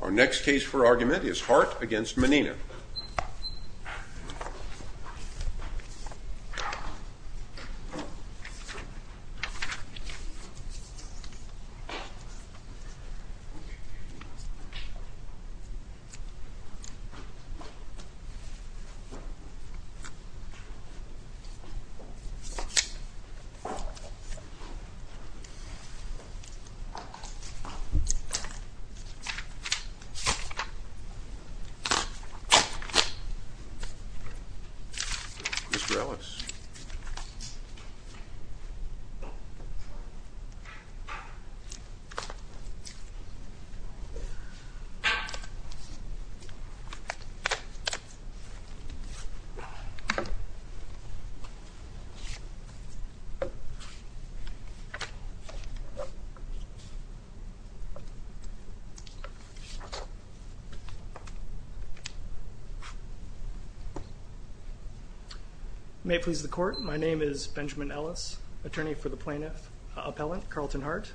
Our next case for argument is Hart against Menina. Mr. Ellis. May it please the court. My name is Benjamin Ellis, attorney for the plaintiff, appellant Carlton Hart.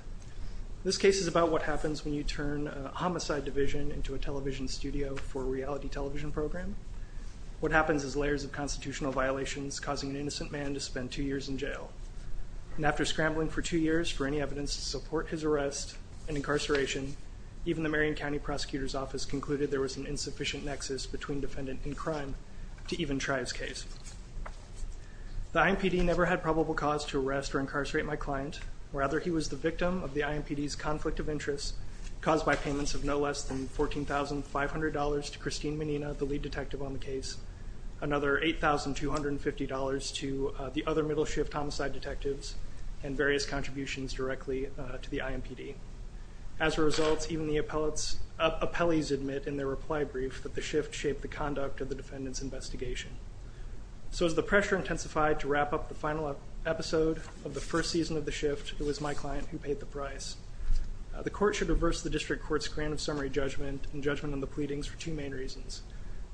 This case is about what happens when you turn a homicide division into a television studio for a reality television program. What happens is layers of constitutional violations causing an innocent man to spend two years in jail. And after scrambling for two years for any evidence to support his arrest and incarceration, even the Marion County Prosecutor's Office concluded there was an insufficient nexus between defendant and crime to even try his case. The IMPD never had probable cause to arrest or incarcerate my client. Rather, he was the victim of the IMPD's conflict of interest caused by payments of no less than $14,500 to Christine Menina, the lead detective on the case, another $8,250 to the other middle shift homicide detectives, and various contributions directly to the IMPD. As a result, even the appellees admit in their reply brief that the shift shaped the conduct of the defendant's investigation. So as the pressure intensified to wrap up the final episode of the first season of the shift, it was my client who paid the price. The court should reverse the district court's grant of summary judgment and judgment on the pleadings for two main reasons.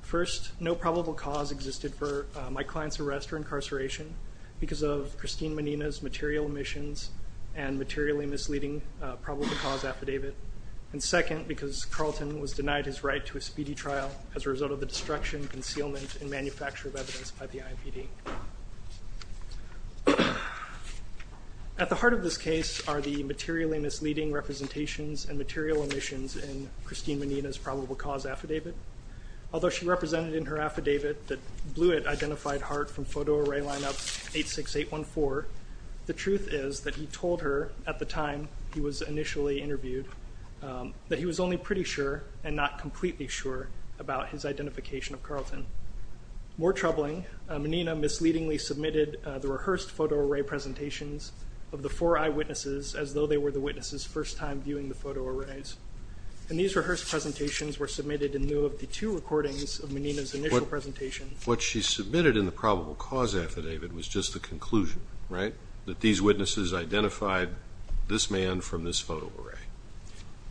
First, no probable cause existed for my client's arrest or incarceration because of Christine Menina's material omissions and materially misleading probable cause affidavit. And second, because Carlton was denied his right to a speedy trial as a result of the destruction, concealment, and manufacture of evidence by the IMPD. At the heart of this case are the materially misleading representations and material omissions in Christine Menina's probable cause affidavit. Although she represented in her affidavit that Blewett identified Hart from photo array lineup 86814, the truth is that he told her at the time he was initially interviewed that he was only pretty sure and not completely sure about his identification of Carlton. More troubling, Menina misleadingly submitted the rehearsed photo array presentations of the four eyewitnesses as though they were the witnesses' first time viewing the photo arrays. And these rehearsed presentations were submitted in lieu of the two recordings of Menina's initial presentation. What she submitted in the probable cause affidavit was just the conclusion, right, that these witnesses identified this man from this photo array.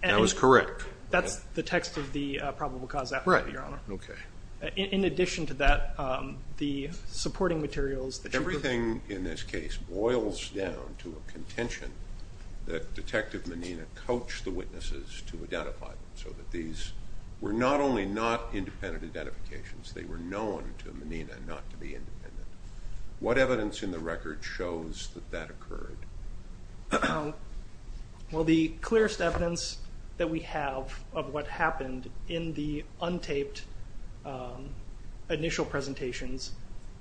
That was correct. That's the text of the probable cause affidavit, Your Honor. Right. Okay. In addition to that, the supporting materials that she provided... Everything in this case boils down to a contention that Detective Menina coached the witnesses to identify them so that these were not only not independent identifications, they were known to Menina not to be independent. What evidence in the record shows that that occurred? Well, the clearest evidence that we have of what happened in the untaped initial presentations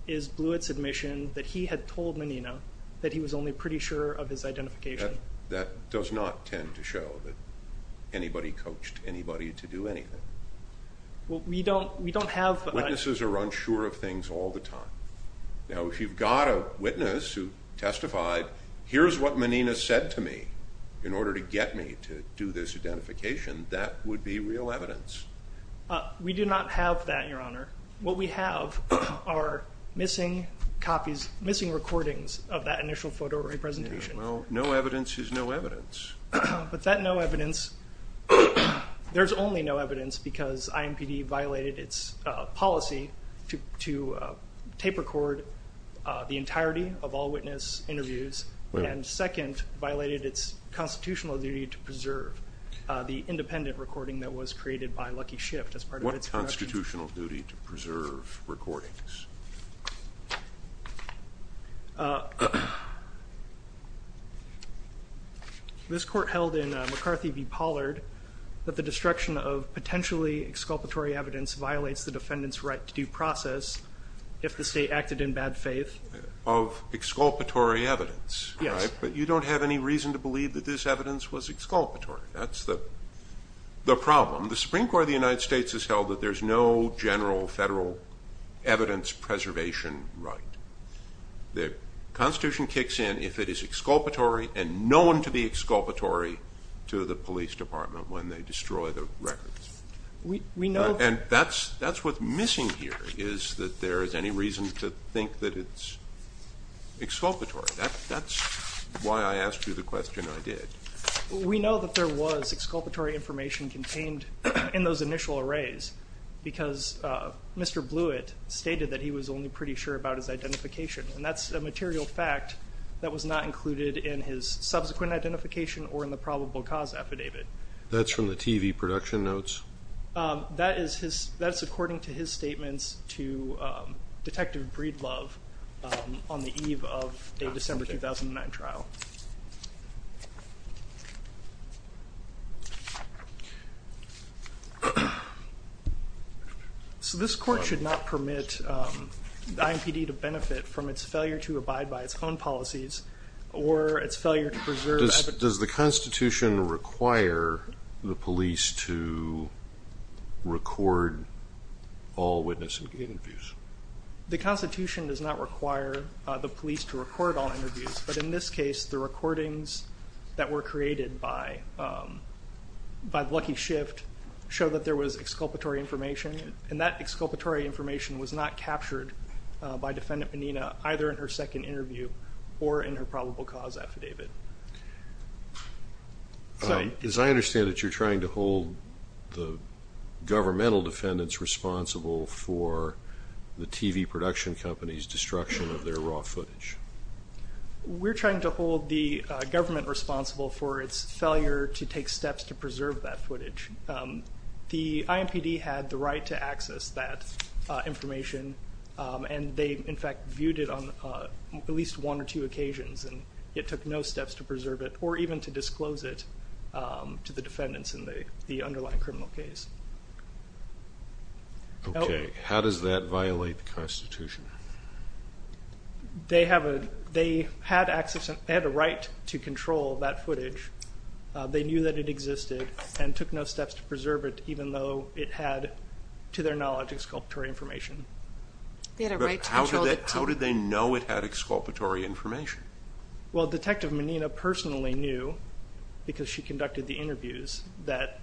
is Blewett's admission that he had told Menina that he was only pretty sure of his identification. That does not tend to show that anybody coached anybody to do anything. Well, we don't have... Witnesses are unsure of things all the time. Now, if you've got a witness who testified, here's what Menina said to me in order to get me to do this identification, that would be real evidence. We do not have that, Your Honor. What we have are missing copies, missing recordings of that initial photo array presentation. Well, no evidence is no evidence. But that no evidence, there's only no evidence because IMPD violated its policy to tape record the entirety of all witness interviews and, second, violated its constitutional duty to preserve the independent recording that was created by Lucky Shift as part of its corrections. What constitutional duty to preserve recordings? This court held in McCarthy v. Pollard that the destruction of potentially exculpatory evidence violates the defendant's right to due process if the state acted in bad faith. Of exculpatory evidence, right? Yes. But you don't have any reason to believe that this evidence was exculpatory. That's the problem. The Supreme Court of the United States has held that there's no general federal evidence preservation right. The Constitution kicks in if it is exculpatory and known to be exculpatory to the police department when they destroy the records. And that's what's missing here is that there is any reason to think that it's exculpatory. That's why I asked you the question I did. We know that there was exculpatory information contained in those initial arrays because Mr. Blewett stated that he was only pretty sure about his identification, and that's a material fact that was not included in his subsequent identification or in the probable cause affidavit. That's from the TV production notes? That's according to his statements to Detective Breedlove on the eve of a December 2009 trial. So this court should not permit the IMPD to benefit from its failure to abide by its own policies or its failure to preserve evidence. Does the Constitution require the police to record all witness interviews? The Constitution does not require the police to record all interviews, but in this case the recordings that were created by Lucky Shift show that there was exculpatory information, and that exculpatory information was not captured by Defendant Menina either in her second interview or in her probable cause affidavit. As I understand it, you're trying to hold the governmental defendants responsible for the TV production company's destruction of their raw footage. We're trying to hold the government responsible for its failure to take steps to preserve that footage. The IMPD had the right to access that information, and they, in fact, viewed it on at least one or two occasions, and it took no steps to preserve it or even to disclose it to the defendants in the underlying criminal case. Okay. How does that violate the Constitution? They had a right to control that footage. They knew that it existed and took no steps to preserve it, even though it had, to their knowledge, exculpatory information. They had a right to control it. But how did they know it had exculpatory information? Well, Detective Menina personally knew, because she conducted the interviews, that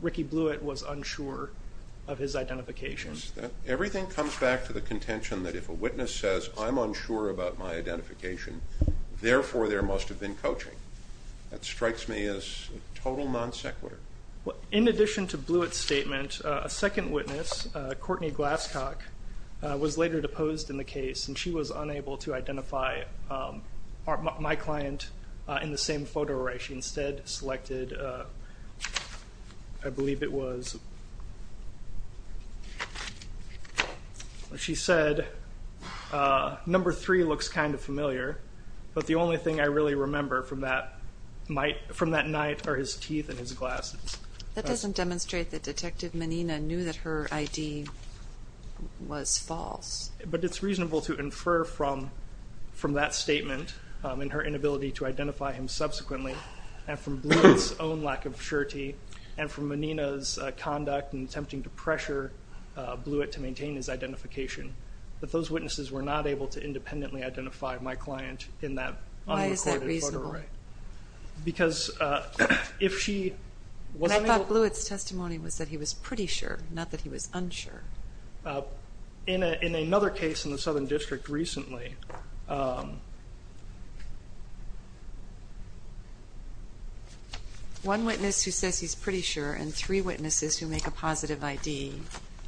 Ricky Blewett was unsure of his identification. Everything comes back to the contention that if a witness says, I'm unsure about my identification, therefore, there must have been coaching. That strikes me as total non sequitur. In addition to Blewett's statement, a second witness, Courtney Glasscock, was later deposed in the case, and she was unable to identify my client in the same photo array. She instead selected, I believe it was, she said, number three looks kind of familiar, but the only thing I really remember from that night are his teeth and his glasses. That doesn't demonstrate that Detective Menina knew that her ID was false. But it's reasonable to infer from that statement, and her inability to identify him subsequently, and from Blewett's own lack of surety, and from Menina's conduct in attempting to pressure Blewett to maintain his identification, that those witnesses were not able to independently identify my client in that unrecorded photo array. Why is that reasonable? Because if she was unable- I thought Blewett's testimony was that he was pretty sure, not that he was unsure. In another case in the Southern District recently- One witness who says he's pretty sure, and three witnesses who make a positive ID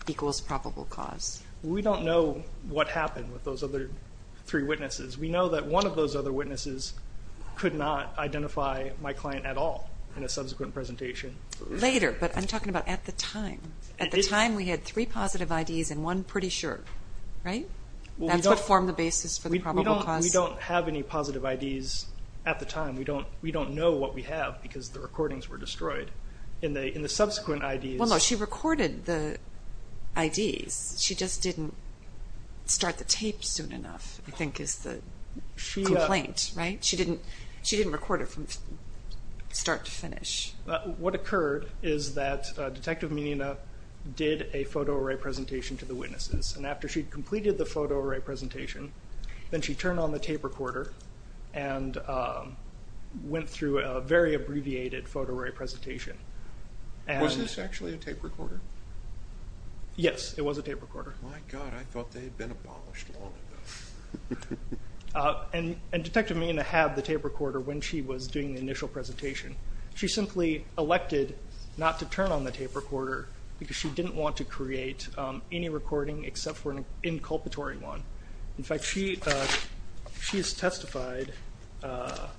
equals probable cause. We don't know what happened with those other three witnesses. We know that one of those other witnesses could not identify my client at all in a subsequent presentation. Later, but I'm talking about at the time. At the time, we had three positive IDs and one pretty sure, right? That's what formed the basis for the probable cause. We don't have any positive IDs at the time. We don't know what we have because the recordings were destroyed. In the subsequent IDs- Well, no, she recorded the IDs. She just didn't start the tape soon enough, I think is the complaint, right? She didn't record it from start to finish. What occurred is that Detective Menina did a photo-array presentation to the witnesses. After she completed the photo-array presentation, then she turned on the tape recorder and went through a very abbreviated photo-array presentation. Was this actually a tape recorder? Yes, it was a tape recorder. My God, I thought they had been abolished long ago. Detective Menina had the tape recorder when she was doing the initial presentation. She simply elected not to turn on the tape recorder because she didn't want to create any recording except for an inculpatory one. In fact, she testified that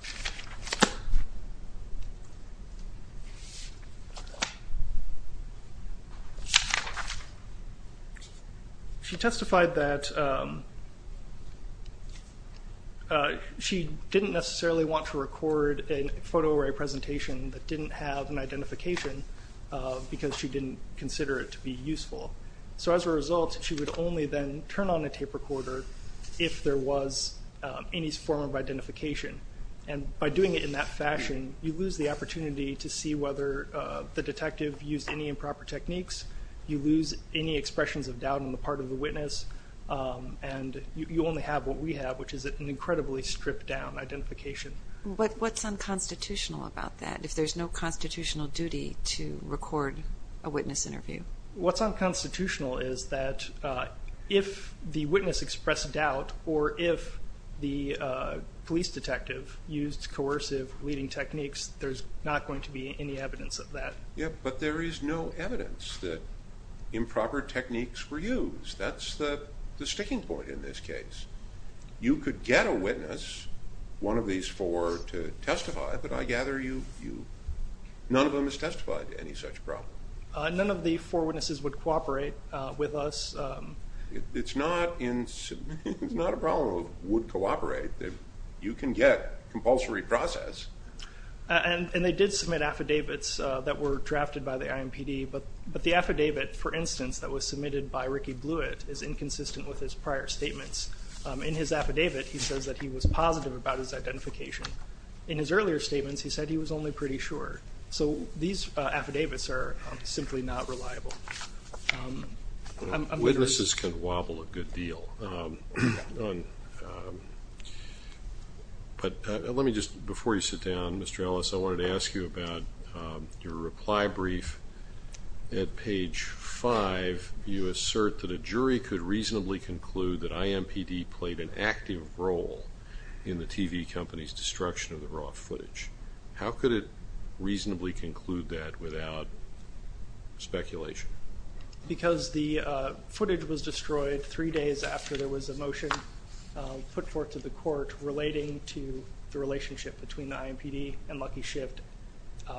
she didn't necessarily want to record a photo-array presentation that didn't have an identification because she didn't consider it to be useful. As a result, she would only then turn on the tape recorder if there was any form of identification. By doing it in that fashion, you lose the opportunity to see whether the detective used any improper techniques. You lose any expressions of doubt on the part of the witness. You only have what we have, which is an incredibly stripped-down identification. What's unconstitutional about that, if there's no constitutional duty to record a witness interview? What's unconstitutional is that if the witness expressed doubt or if the police detective used coercive leading techniques, there's not going to be any evidence of that. But there is no evidence that improper techniques were used. That's the sticking point in this case. You could get a witness, one of these four, to testify, but I gather none of them has testified to any such problem. None of the four witnesses would cooperate with us. It's not a problem of would cooperate. You can get compulsory process. And they did submit affidavits that were drafted by the INPD, but the affidavit, for instance, that was submitted by Ricky Blewett is inconsistent with his prior statements. In his affidavit, he says that he was positive about his identification. In his earlier statements, he said he was only pretty sure. So these affidavits are simply not reliable. Witnesses can wobble a good deal. But let me just, before you sit down, Mr. Ellis, I wanted to ask you about your reply brief at page five. You assert that a jury could reasonably conclude that INPD played an active role in the TV company's destruction of the raw footage. How could it reasonably conclude that without speculation? Because the footage was destroyed three days after there was a motion put forth to the court relating to the relationship between the INPD and Lucky Shift,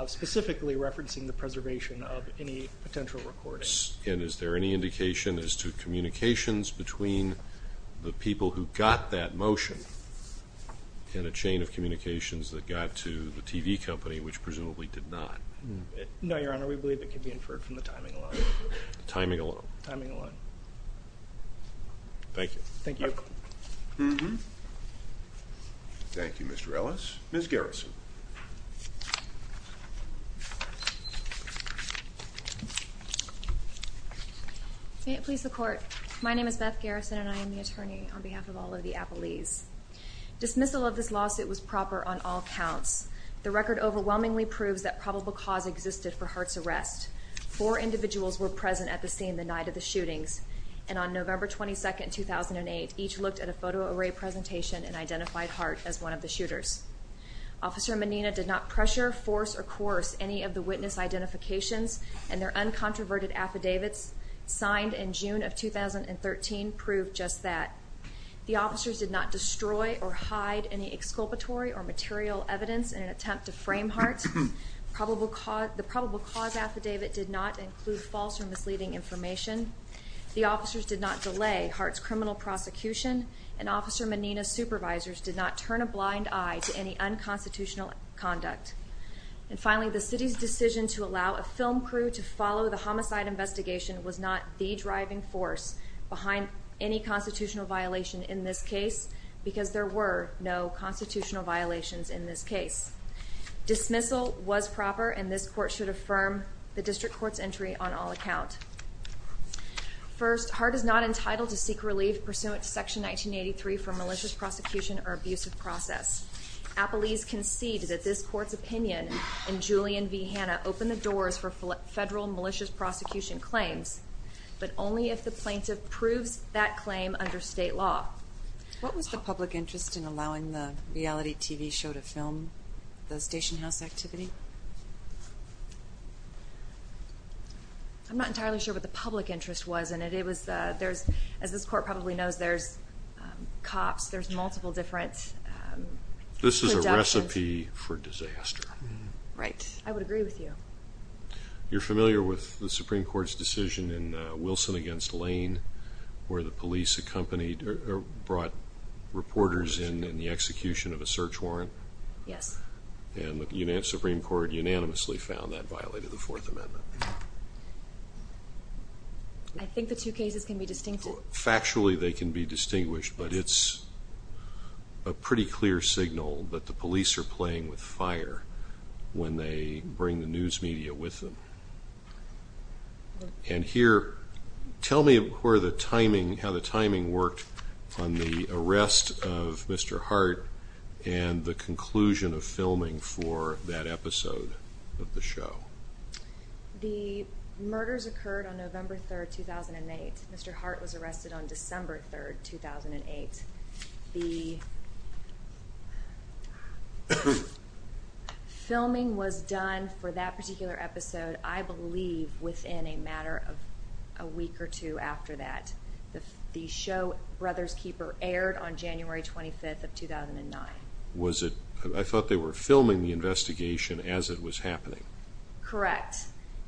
specifically referencing the preservation of any potential recordings. And is there any indication as to communications between the people who got that motion and a chain of communications that got to the TV company, which presumably did not? No, Your Honor, we believe it can be inferred from the timing alone. Timing alone? Timing alone. Thank you. Thank you. Thank you, Mr. Ellis. Ms. Garrison. May it please the Court, My name is Beth Garrison, and I am the attorney on behalf of all of the appellees. Dismissal of this lawsuit was proper on all counts. The record overwhelmingly proves that probable cause existed for Hart's arrest. Four individuals were present at the scene the night of the shootings, and on November 22, 2008, each looked at a photo array presentation and identified Hart as one of the shooters. Officer Menina did not pressure, force, or coerce any of the witness identifications and their uncontroverted affidavits signed in June of 2013 prove just that. The officers did not destroy or hide any exculpatory or material evidence in an attempt to frame Hart. The probable cause affidavit did not include false or misleading information. The officers did not delay Hart's criminal prosecution, and Officer Menina's supervisors did not turn a blind eye to any unconstitutional conduct. And finally, the City's decision to allow a film crew to follow the homicide investigation was not the driving force behind any constitutional violation in this case because there were no constitutional violations in this case. Dismissal was proper, and this Court should affirm the District Court's entry on all accounts. First, Hart is not entitled to seek relief pursuant to Section 1983 for malicious prosecution or abusive process. Appellees concede that this Court's opinion in Julian v. Hanna opened the doors for federal malicious prosecution claims, but only if the plaintiff proves that claim under state law. What was the public interest in allowing the reality TV show to film the stationhouse activity? I'm not entirely sure what the public interest was in it. As this Court probably knows, there's cops, there's multiple different productions. This is a recipe for disaster. Right. I would agree with you. You're familiar with the Supreme Court's decision in Wilson v. Lane where the police brought reporters in in the execution of a search warrant? Yes. And the Supreme Court unanimously found that violated the Fourth Amendment. I think the two cases can be distinguished. Factually, they can be distinguished, but it's a pretty clear signal that the police are playing with fire when they bring the news media with them. And here, tell me how the timing worked on the arrest of Mr. Hart and the conclusion of filming for that episode of the show. The murders occurred on November 3, 2008. Mr. Hart was arrested on December 3, 2008. The filming was done for that particular episode, I believe, within a matter of a week or two after that. The show, Brother's Keeper, aired on January 25, 2009. I thought they were filming the investigation as it was happening. Correct.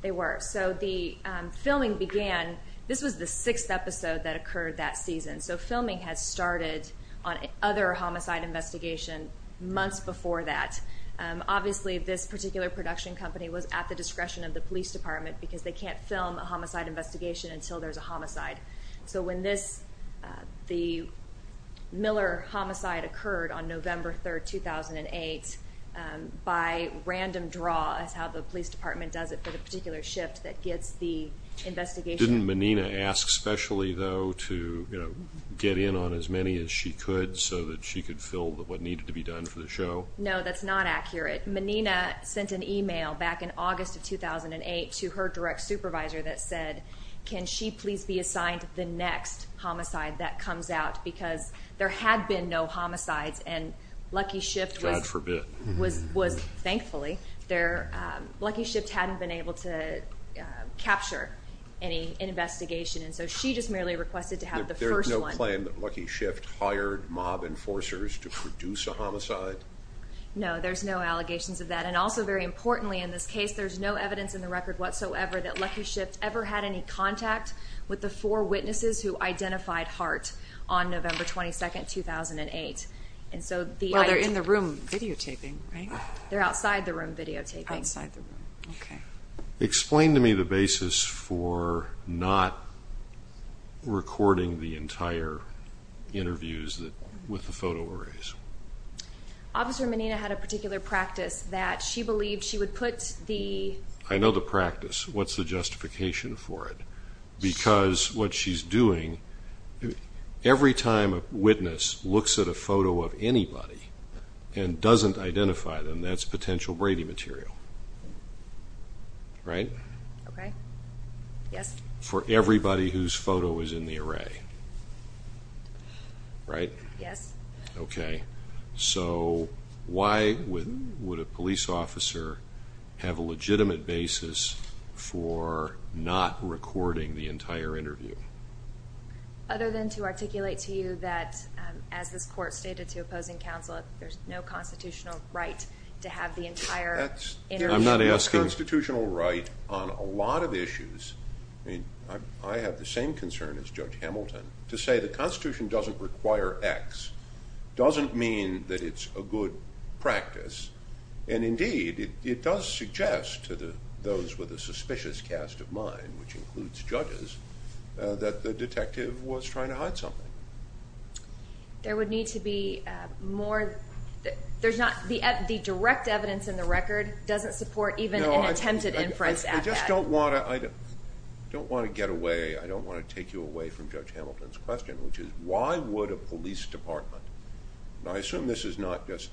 They were. So the filming began. This was the sixth episode that occurred that season, so filming had started on other homicide investigation months before that. Obviously, this particular production company was at the discretion of the police department because they can't film a homicide investigation until there's a homicide. So when the Miller homicide occurred on November 3, 2008, by random draw is how the police department does it for the particular shift that gets the investigation. Didn't Menina ask specially, though, to get in on as many as she could so that she could film what needed to be done for the show? No, that's not accurate. Menina sent an email back in August of 2008 to her direct supervisor that said, can she please be assigned the next homicide that comes out? Because there had been no homicides, and Lucky Shift was... God forbid. Thankfully, Lucky Shift hadn't been able to capture any investigation, and so she just merely requested to have the first one. There's no claim that Lucky Shift hired mob enforcers to produce a homicide? No, there's no allegations of that. And also, very importantly in this case, there's no evidence in the record whatsoever that Lucky Shift ever had any contact with the four witnesses who identified Hart on November 22, 2008. Well, they're in the room videotaping, right? They're outside the room videotaping. Outside the room, okay. Explain to me the basis for not recording the entire interviews with the photo arrays. Officer Menina had a particular practice that she believed she would put the... I know the practice. What's the justification for it? Because what she's doing, every time a witness looks at a photo of anybody and doesn't identify them, that's potential Brady material, right? Okay. Yes. For everybody whose photo is in the array, right? Yes. Okay. So why would a police officer have a legitimate basis for not recording the entire interview? Other than to articulate to you that, as this Court stated to opposing counsel, there's no constitutional right to have the entire interview. I'm not asking... There's no constitutional right on a lot of issues. I mean, I have the same concern as Judge Hamilton to say the Constitution doesn't require X doesn't mean that it's a good practice, and indeed it does suggest to those with a suspicious cast of mind, which includes judges, that the detective was trying to hide something. There would need to be more... The direct evidence in the record doesn't support even an attempted inference at that. I just don't want to get away, I don't want to take you away from Judge Hamilton's question, which is why would a police department, and I assume this is not just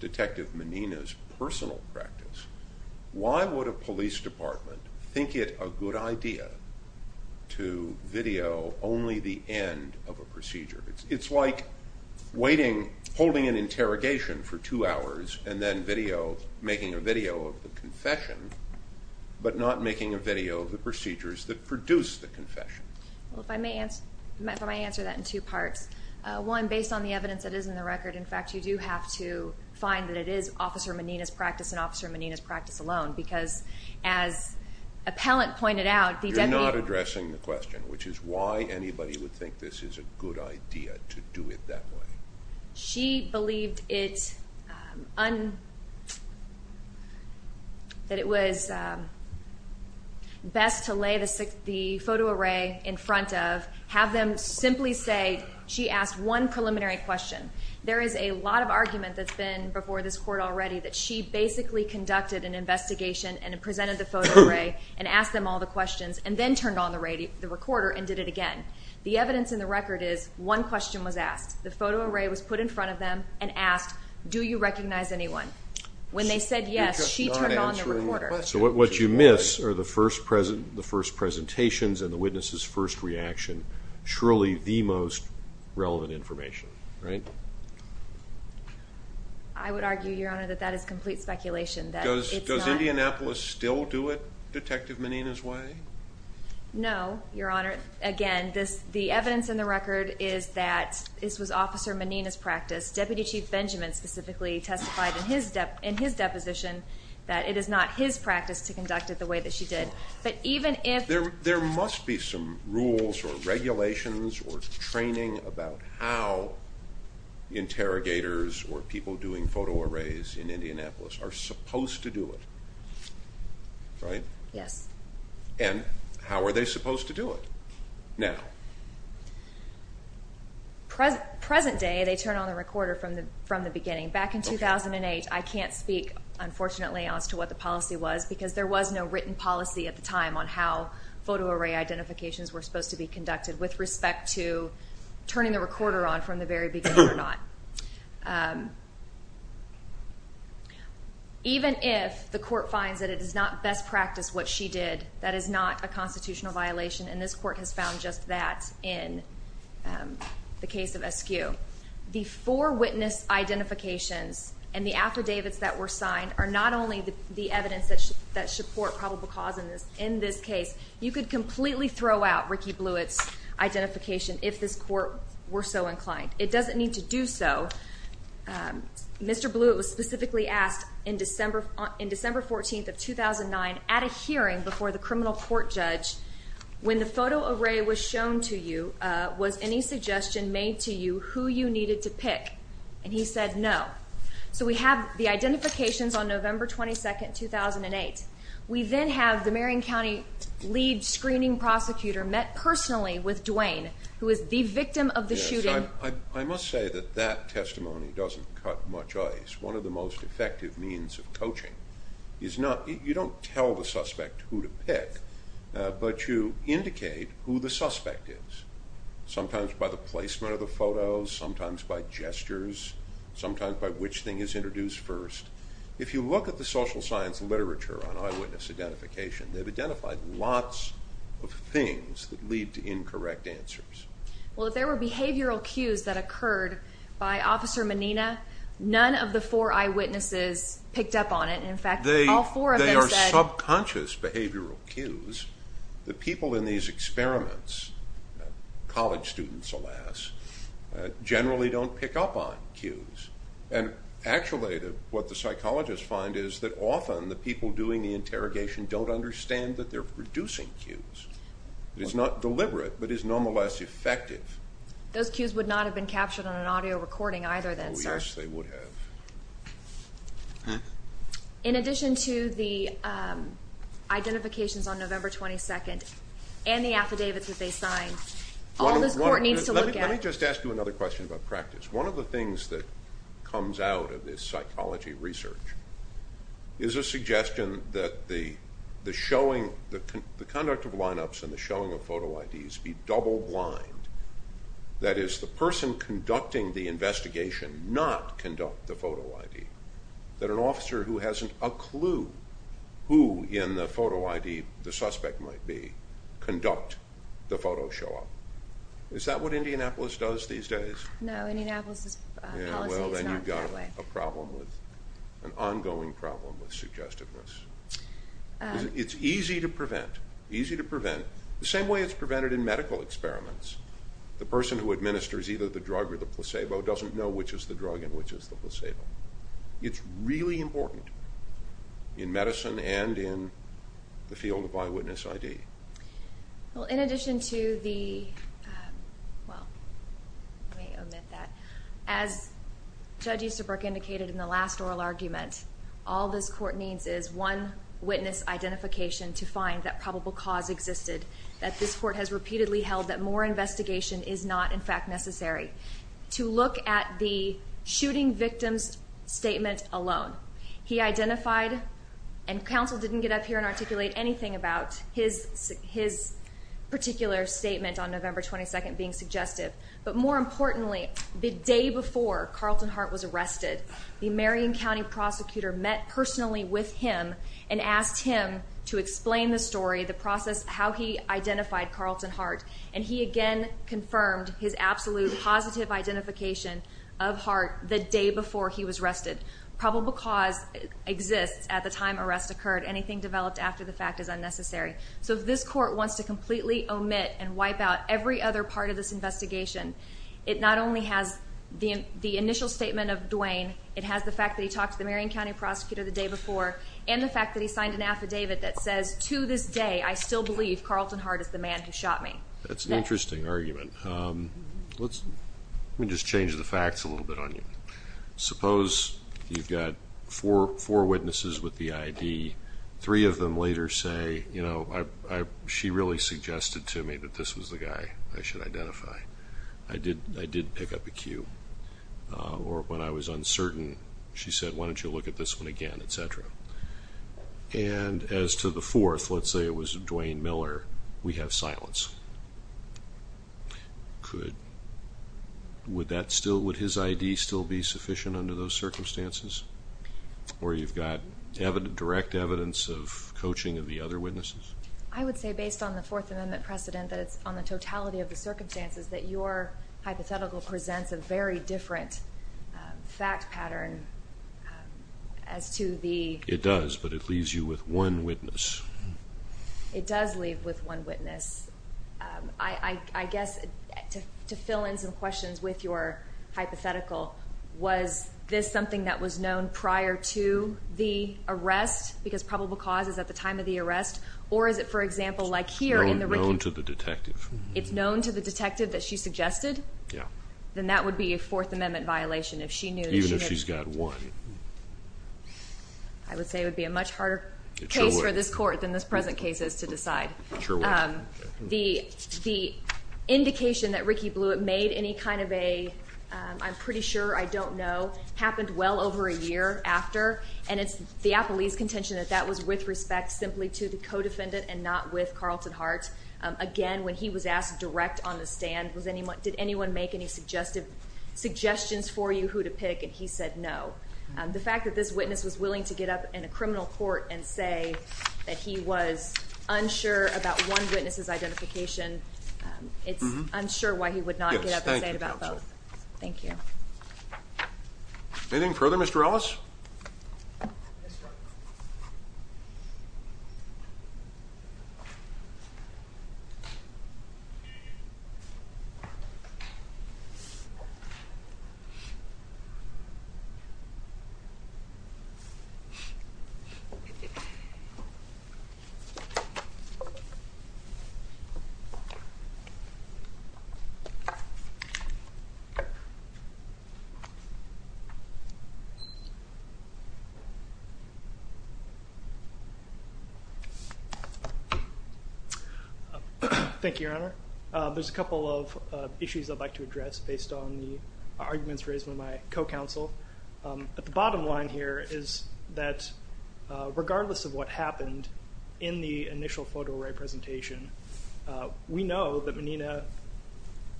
Detective Menina's personal practice, why would a police department think it a good idea to video only the end of a procedure? It's like holding an interrogation for two hours and then making a video of the confession, but not making a video of the procedures that produce the confession. Well, if I may answer that in two parts. One, based on the evidence that is in the record, in fact, you do have to find that it is Officer Menina's practice and Officer Menina's practice alone, because as Appellant pointed out, the deputy... You're not addressing the question, which is why anybody would think this is a good idea to do it that way. She believed that it was best to lay the photo array in front of, have them simply say... She asked one preliminary question. There is a lot of argument that's been before this Court already that she basically conducted an investigation and presented the photo array and asked them all the questions and then turned on the recorder and did it again. The evidence in the record is one question was asked. The photo array was put in front of them and asked, do you recognize anyone? When they said yes, she turned on the recorder. So what you miss are the first presentations and the witness's first reaction, surely the most relevant information, right? I would argue, Your Honor, that that is complete speculation. Does Indianapolis still do it Detective Menina's way? No, Your Honor. Again, the evidence in the record is that this was Officer Menina's practice. Deputy Chief Benjamin specifically testified in his deposition that it is not his practice to conduct it the way that she did. But even if... There must be some rules or regulations or training about how interrogators or people doing photo arrays in Indianapolis are supposed to do it, right? Yes. And how are they supposed to do it now? Present day, they turn on the recorder from the beginning. Back in 2008, I can't speak, unfortunately, as to what the policy was because there was no written policy at the time on how photo array identifications were supposed to be conducted with respect to turning the recorder on from the very beginning or not. Even if the court finds that it is not best practice what she did, that is not a constitutional violation, and this court has found just that in the case of Eskew. The four witness identifications and the affidavits that were signed are not only the evidence that should support probable cause in this case. You could completely throw out Ricky Blewett's identification if this court were so inclined. It doesn't need to do so. Mr. Blewett was specifically asked in December 14th of 2009 at a hearing before the criminal court judge, when the photo array was shown to you, was any suggestion made to you who you needed to pick? And he said no. So we have the identifications on November 22nd, 2008. We then have the Marion County lead screening prosecutor met personally with Duane, who is the victim of the shooting. I must say that that testimony doesn't cut much ice. One of the most effective means of coaching is you don't tell the suspect who to pick, but you indicate who the suspect is, sometimes by the placement of the photos, sometimes by gestures, sometimes by which thing is introduced first. If you look at the social science literature on eyewitness identification, they've identified lots of things that lead to incorrect answers. Well, if there were behavioral cues that occurred by Officer Menina, none of the four eyewitnesses picked up on it. In fact, all four of them said— They are subconscious behavioral cues. The people in these experiments, college students, alas, generally don't pick up on cues. And actually what the psychologists find is that often the people doing the interrogation don't understand that they're producing cues. It's not deliberate, but it's no less effective. Those cues would not have been captured on an audio recording either then, sir. Oh, yes, they would have. In addition to the identifications on November 22nd and the affidavits that they signed, all this court needs to look at— Let me just ask you another question about practice. One of the things that comes out of this psychology research is a suggestion that the conduct of lineups and the showing of photo IDs be double-blind. That is, the person conducting the investigation not conduct the photo ID. That an officer who hasn't a clue who in the photo ID the suspect might be conduct the photo show up. Is that what Indianapolis does these days? No, Indianapolis' policy is not that way. Then you've got an ongoing problem with suggestiveness. It's easy to prevent. The same way it's prevented in medical experiments. The person who administers either the drug or the placebo doesn't know which is the drug and which is the placebo. It's really important in medicine and in the field of eyewitness ID. In addition to the—well, let me omit that. As Judge Easterbrook indicated in the last oral argument, all this court needs is one witness identification to find that probable cause existed. That this court has repeatedly held that more investigation is not, in fact, necessary. To look at the shooting victim's statement alone. He identified—and counsel didn't get up here and articulate anything about his particular statement on November 22nd being suggestive. But more importantly, the day before Carlton Hart was arrested, the Marion County prosecutor met personally with him and asked him to explain the story, the process, how he identified Carlton Hart. And he again confirmed his absolute positive identification of Hart the day before he was arrested. Probable cause exists at the time arrest occurred. Anything developed after the fact is unnecessary. So if this court wants to completely omit and wipe out every other part of this investigation, it not only has the initial statement of Duane, it has the fact that he talked to the Marion County prosecutor the day before, and the fact that he signed an affidavit that says, to this day I still believe Carlton Hart is the man who shot me. That's an interesting argument. Let me just change the facts a little bit on you. Suppose you've got four witnesses with the ID. Three of them later say, you know, she really suggested to me that this was the guy I should identify. I did pick up a cue. Or when I was uncertain, she said, why don't you look at this one again, et cetera. And as to the fourth, let's say it was Duane Miller, we have silence. Could, would that still, would his ID still be sufficient under those circumstances? Or you've got direct evidence of coaching of the other witnesses? I would say based on the Fourth Amendment precedent that it's on the totality of the circumstances that your hypothetical presents a very different fact pattern as to the. It does, but it leaves you with one witness. It does leave with one witness. I guess to fill in some questions with your hypothetical, was this something that was known prior to the arrest because probable cause is at the time of the arrest? Or is it, for example, like here in the. Known to the detective. It's known to the detective that she suggested? Yeah. Then that would be a Fourth Amendment violation if she knew. Even if she's got one. I would say it would be a much harder case for this court than this present case is to decide. The indication that Ricky Blewett made any kind of a, I'm pretty sure, I don't know, happened well over a year after. And it's the Appellee's contention that that was with respect simply to the co-defendant and not with Carlton Hart. Again, when he was asked direct on the stand, did anyone make any suggestions for you who to pick? And he said no. The fact that this witness was willing to get up in a criminal court and say that he was unsure about one witness's identification, it's unsure why he would not get up and say it about both. Anything further, Mr. Ellis? Thank you, Your Honor. There's a couple of issues I'd like to address based on the arguments raised by my co-counsel. The bottom line here is that regardless of what happened in the initial photo-array presentation, we know that Menina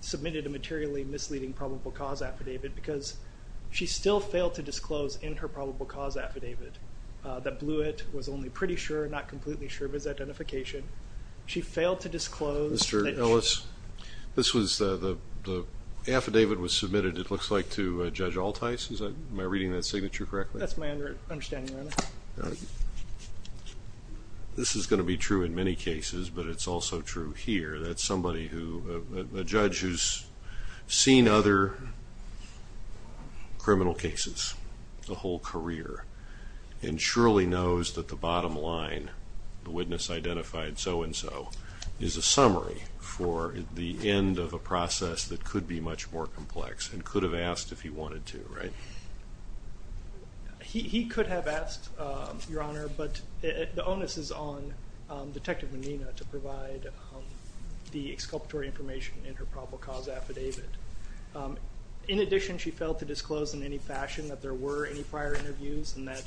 submitted a materially misleading probable cause affidavit because she still failed to disclose in her probable cause affidavit that Blewett was only pretty sure, not completely sure of his identification. She failed to disclose that she... The affidavit was submitted, it looks like, to Judge Altheis. Am I reading that signature correctly? That's my understanding, Your Honor. This is going to be true in many cases, but it's also true here. That's a judge who's seen other criminal cases a whole career and surely knows that the bottom line, the witness identified so-and-so, is a summary for the end of a process that could be much more complex and could have asked if he wanted to, right? He could have asked, Your Honor, but the onus is on Detective Menina to provide the exculpatory information in her probable cause affidavit. In addition, she failed to disclose in any fashion that there were any prior interviews and that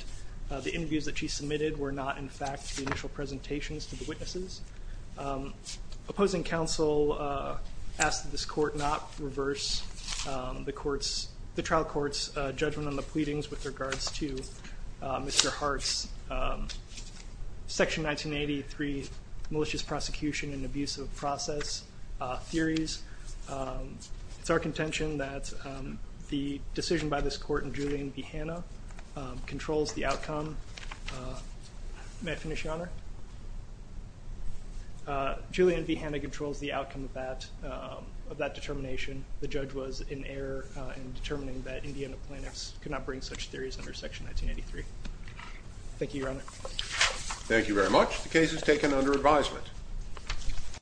the interviews that she submitted were not, in fact, the initial presentations to the witnesses. Opposing counsel asked that this court not reverse the trial court's judgment on the pleadings with regards to Mr. Hart's Section 1983 Malicious Prosecution and Abusive Process theories. It's our contention that the decision by this court in Julian B. Hanna controls the outcome. May I finish, Your Honor? Julian B. Hanna controls the outcome of that determination. The judge was in error in determining that Indiana plaintiffs could not bring such theories under Section 1983. Thank you, Your Honor. Thank you very much. The case is taken under advisement.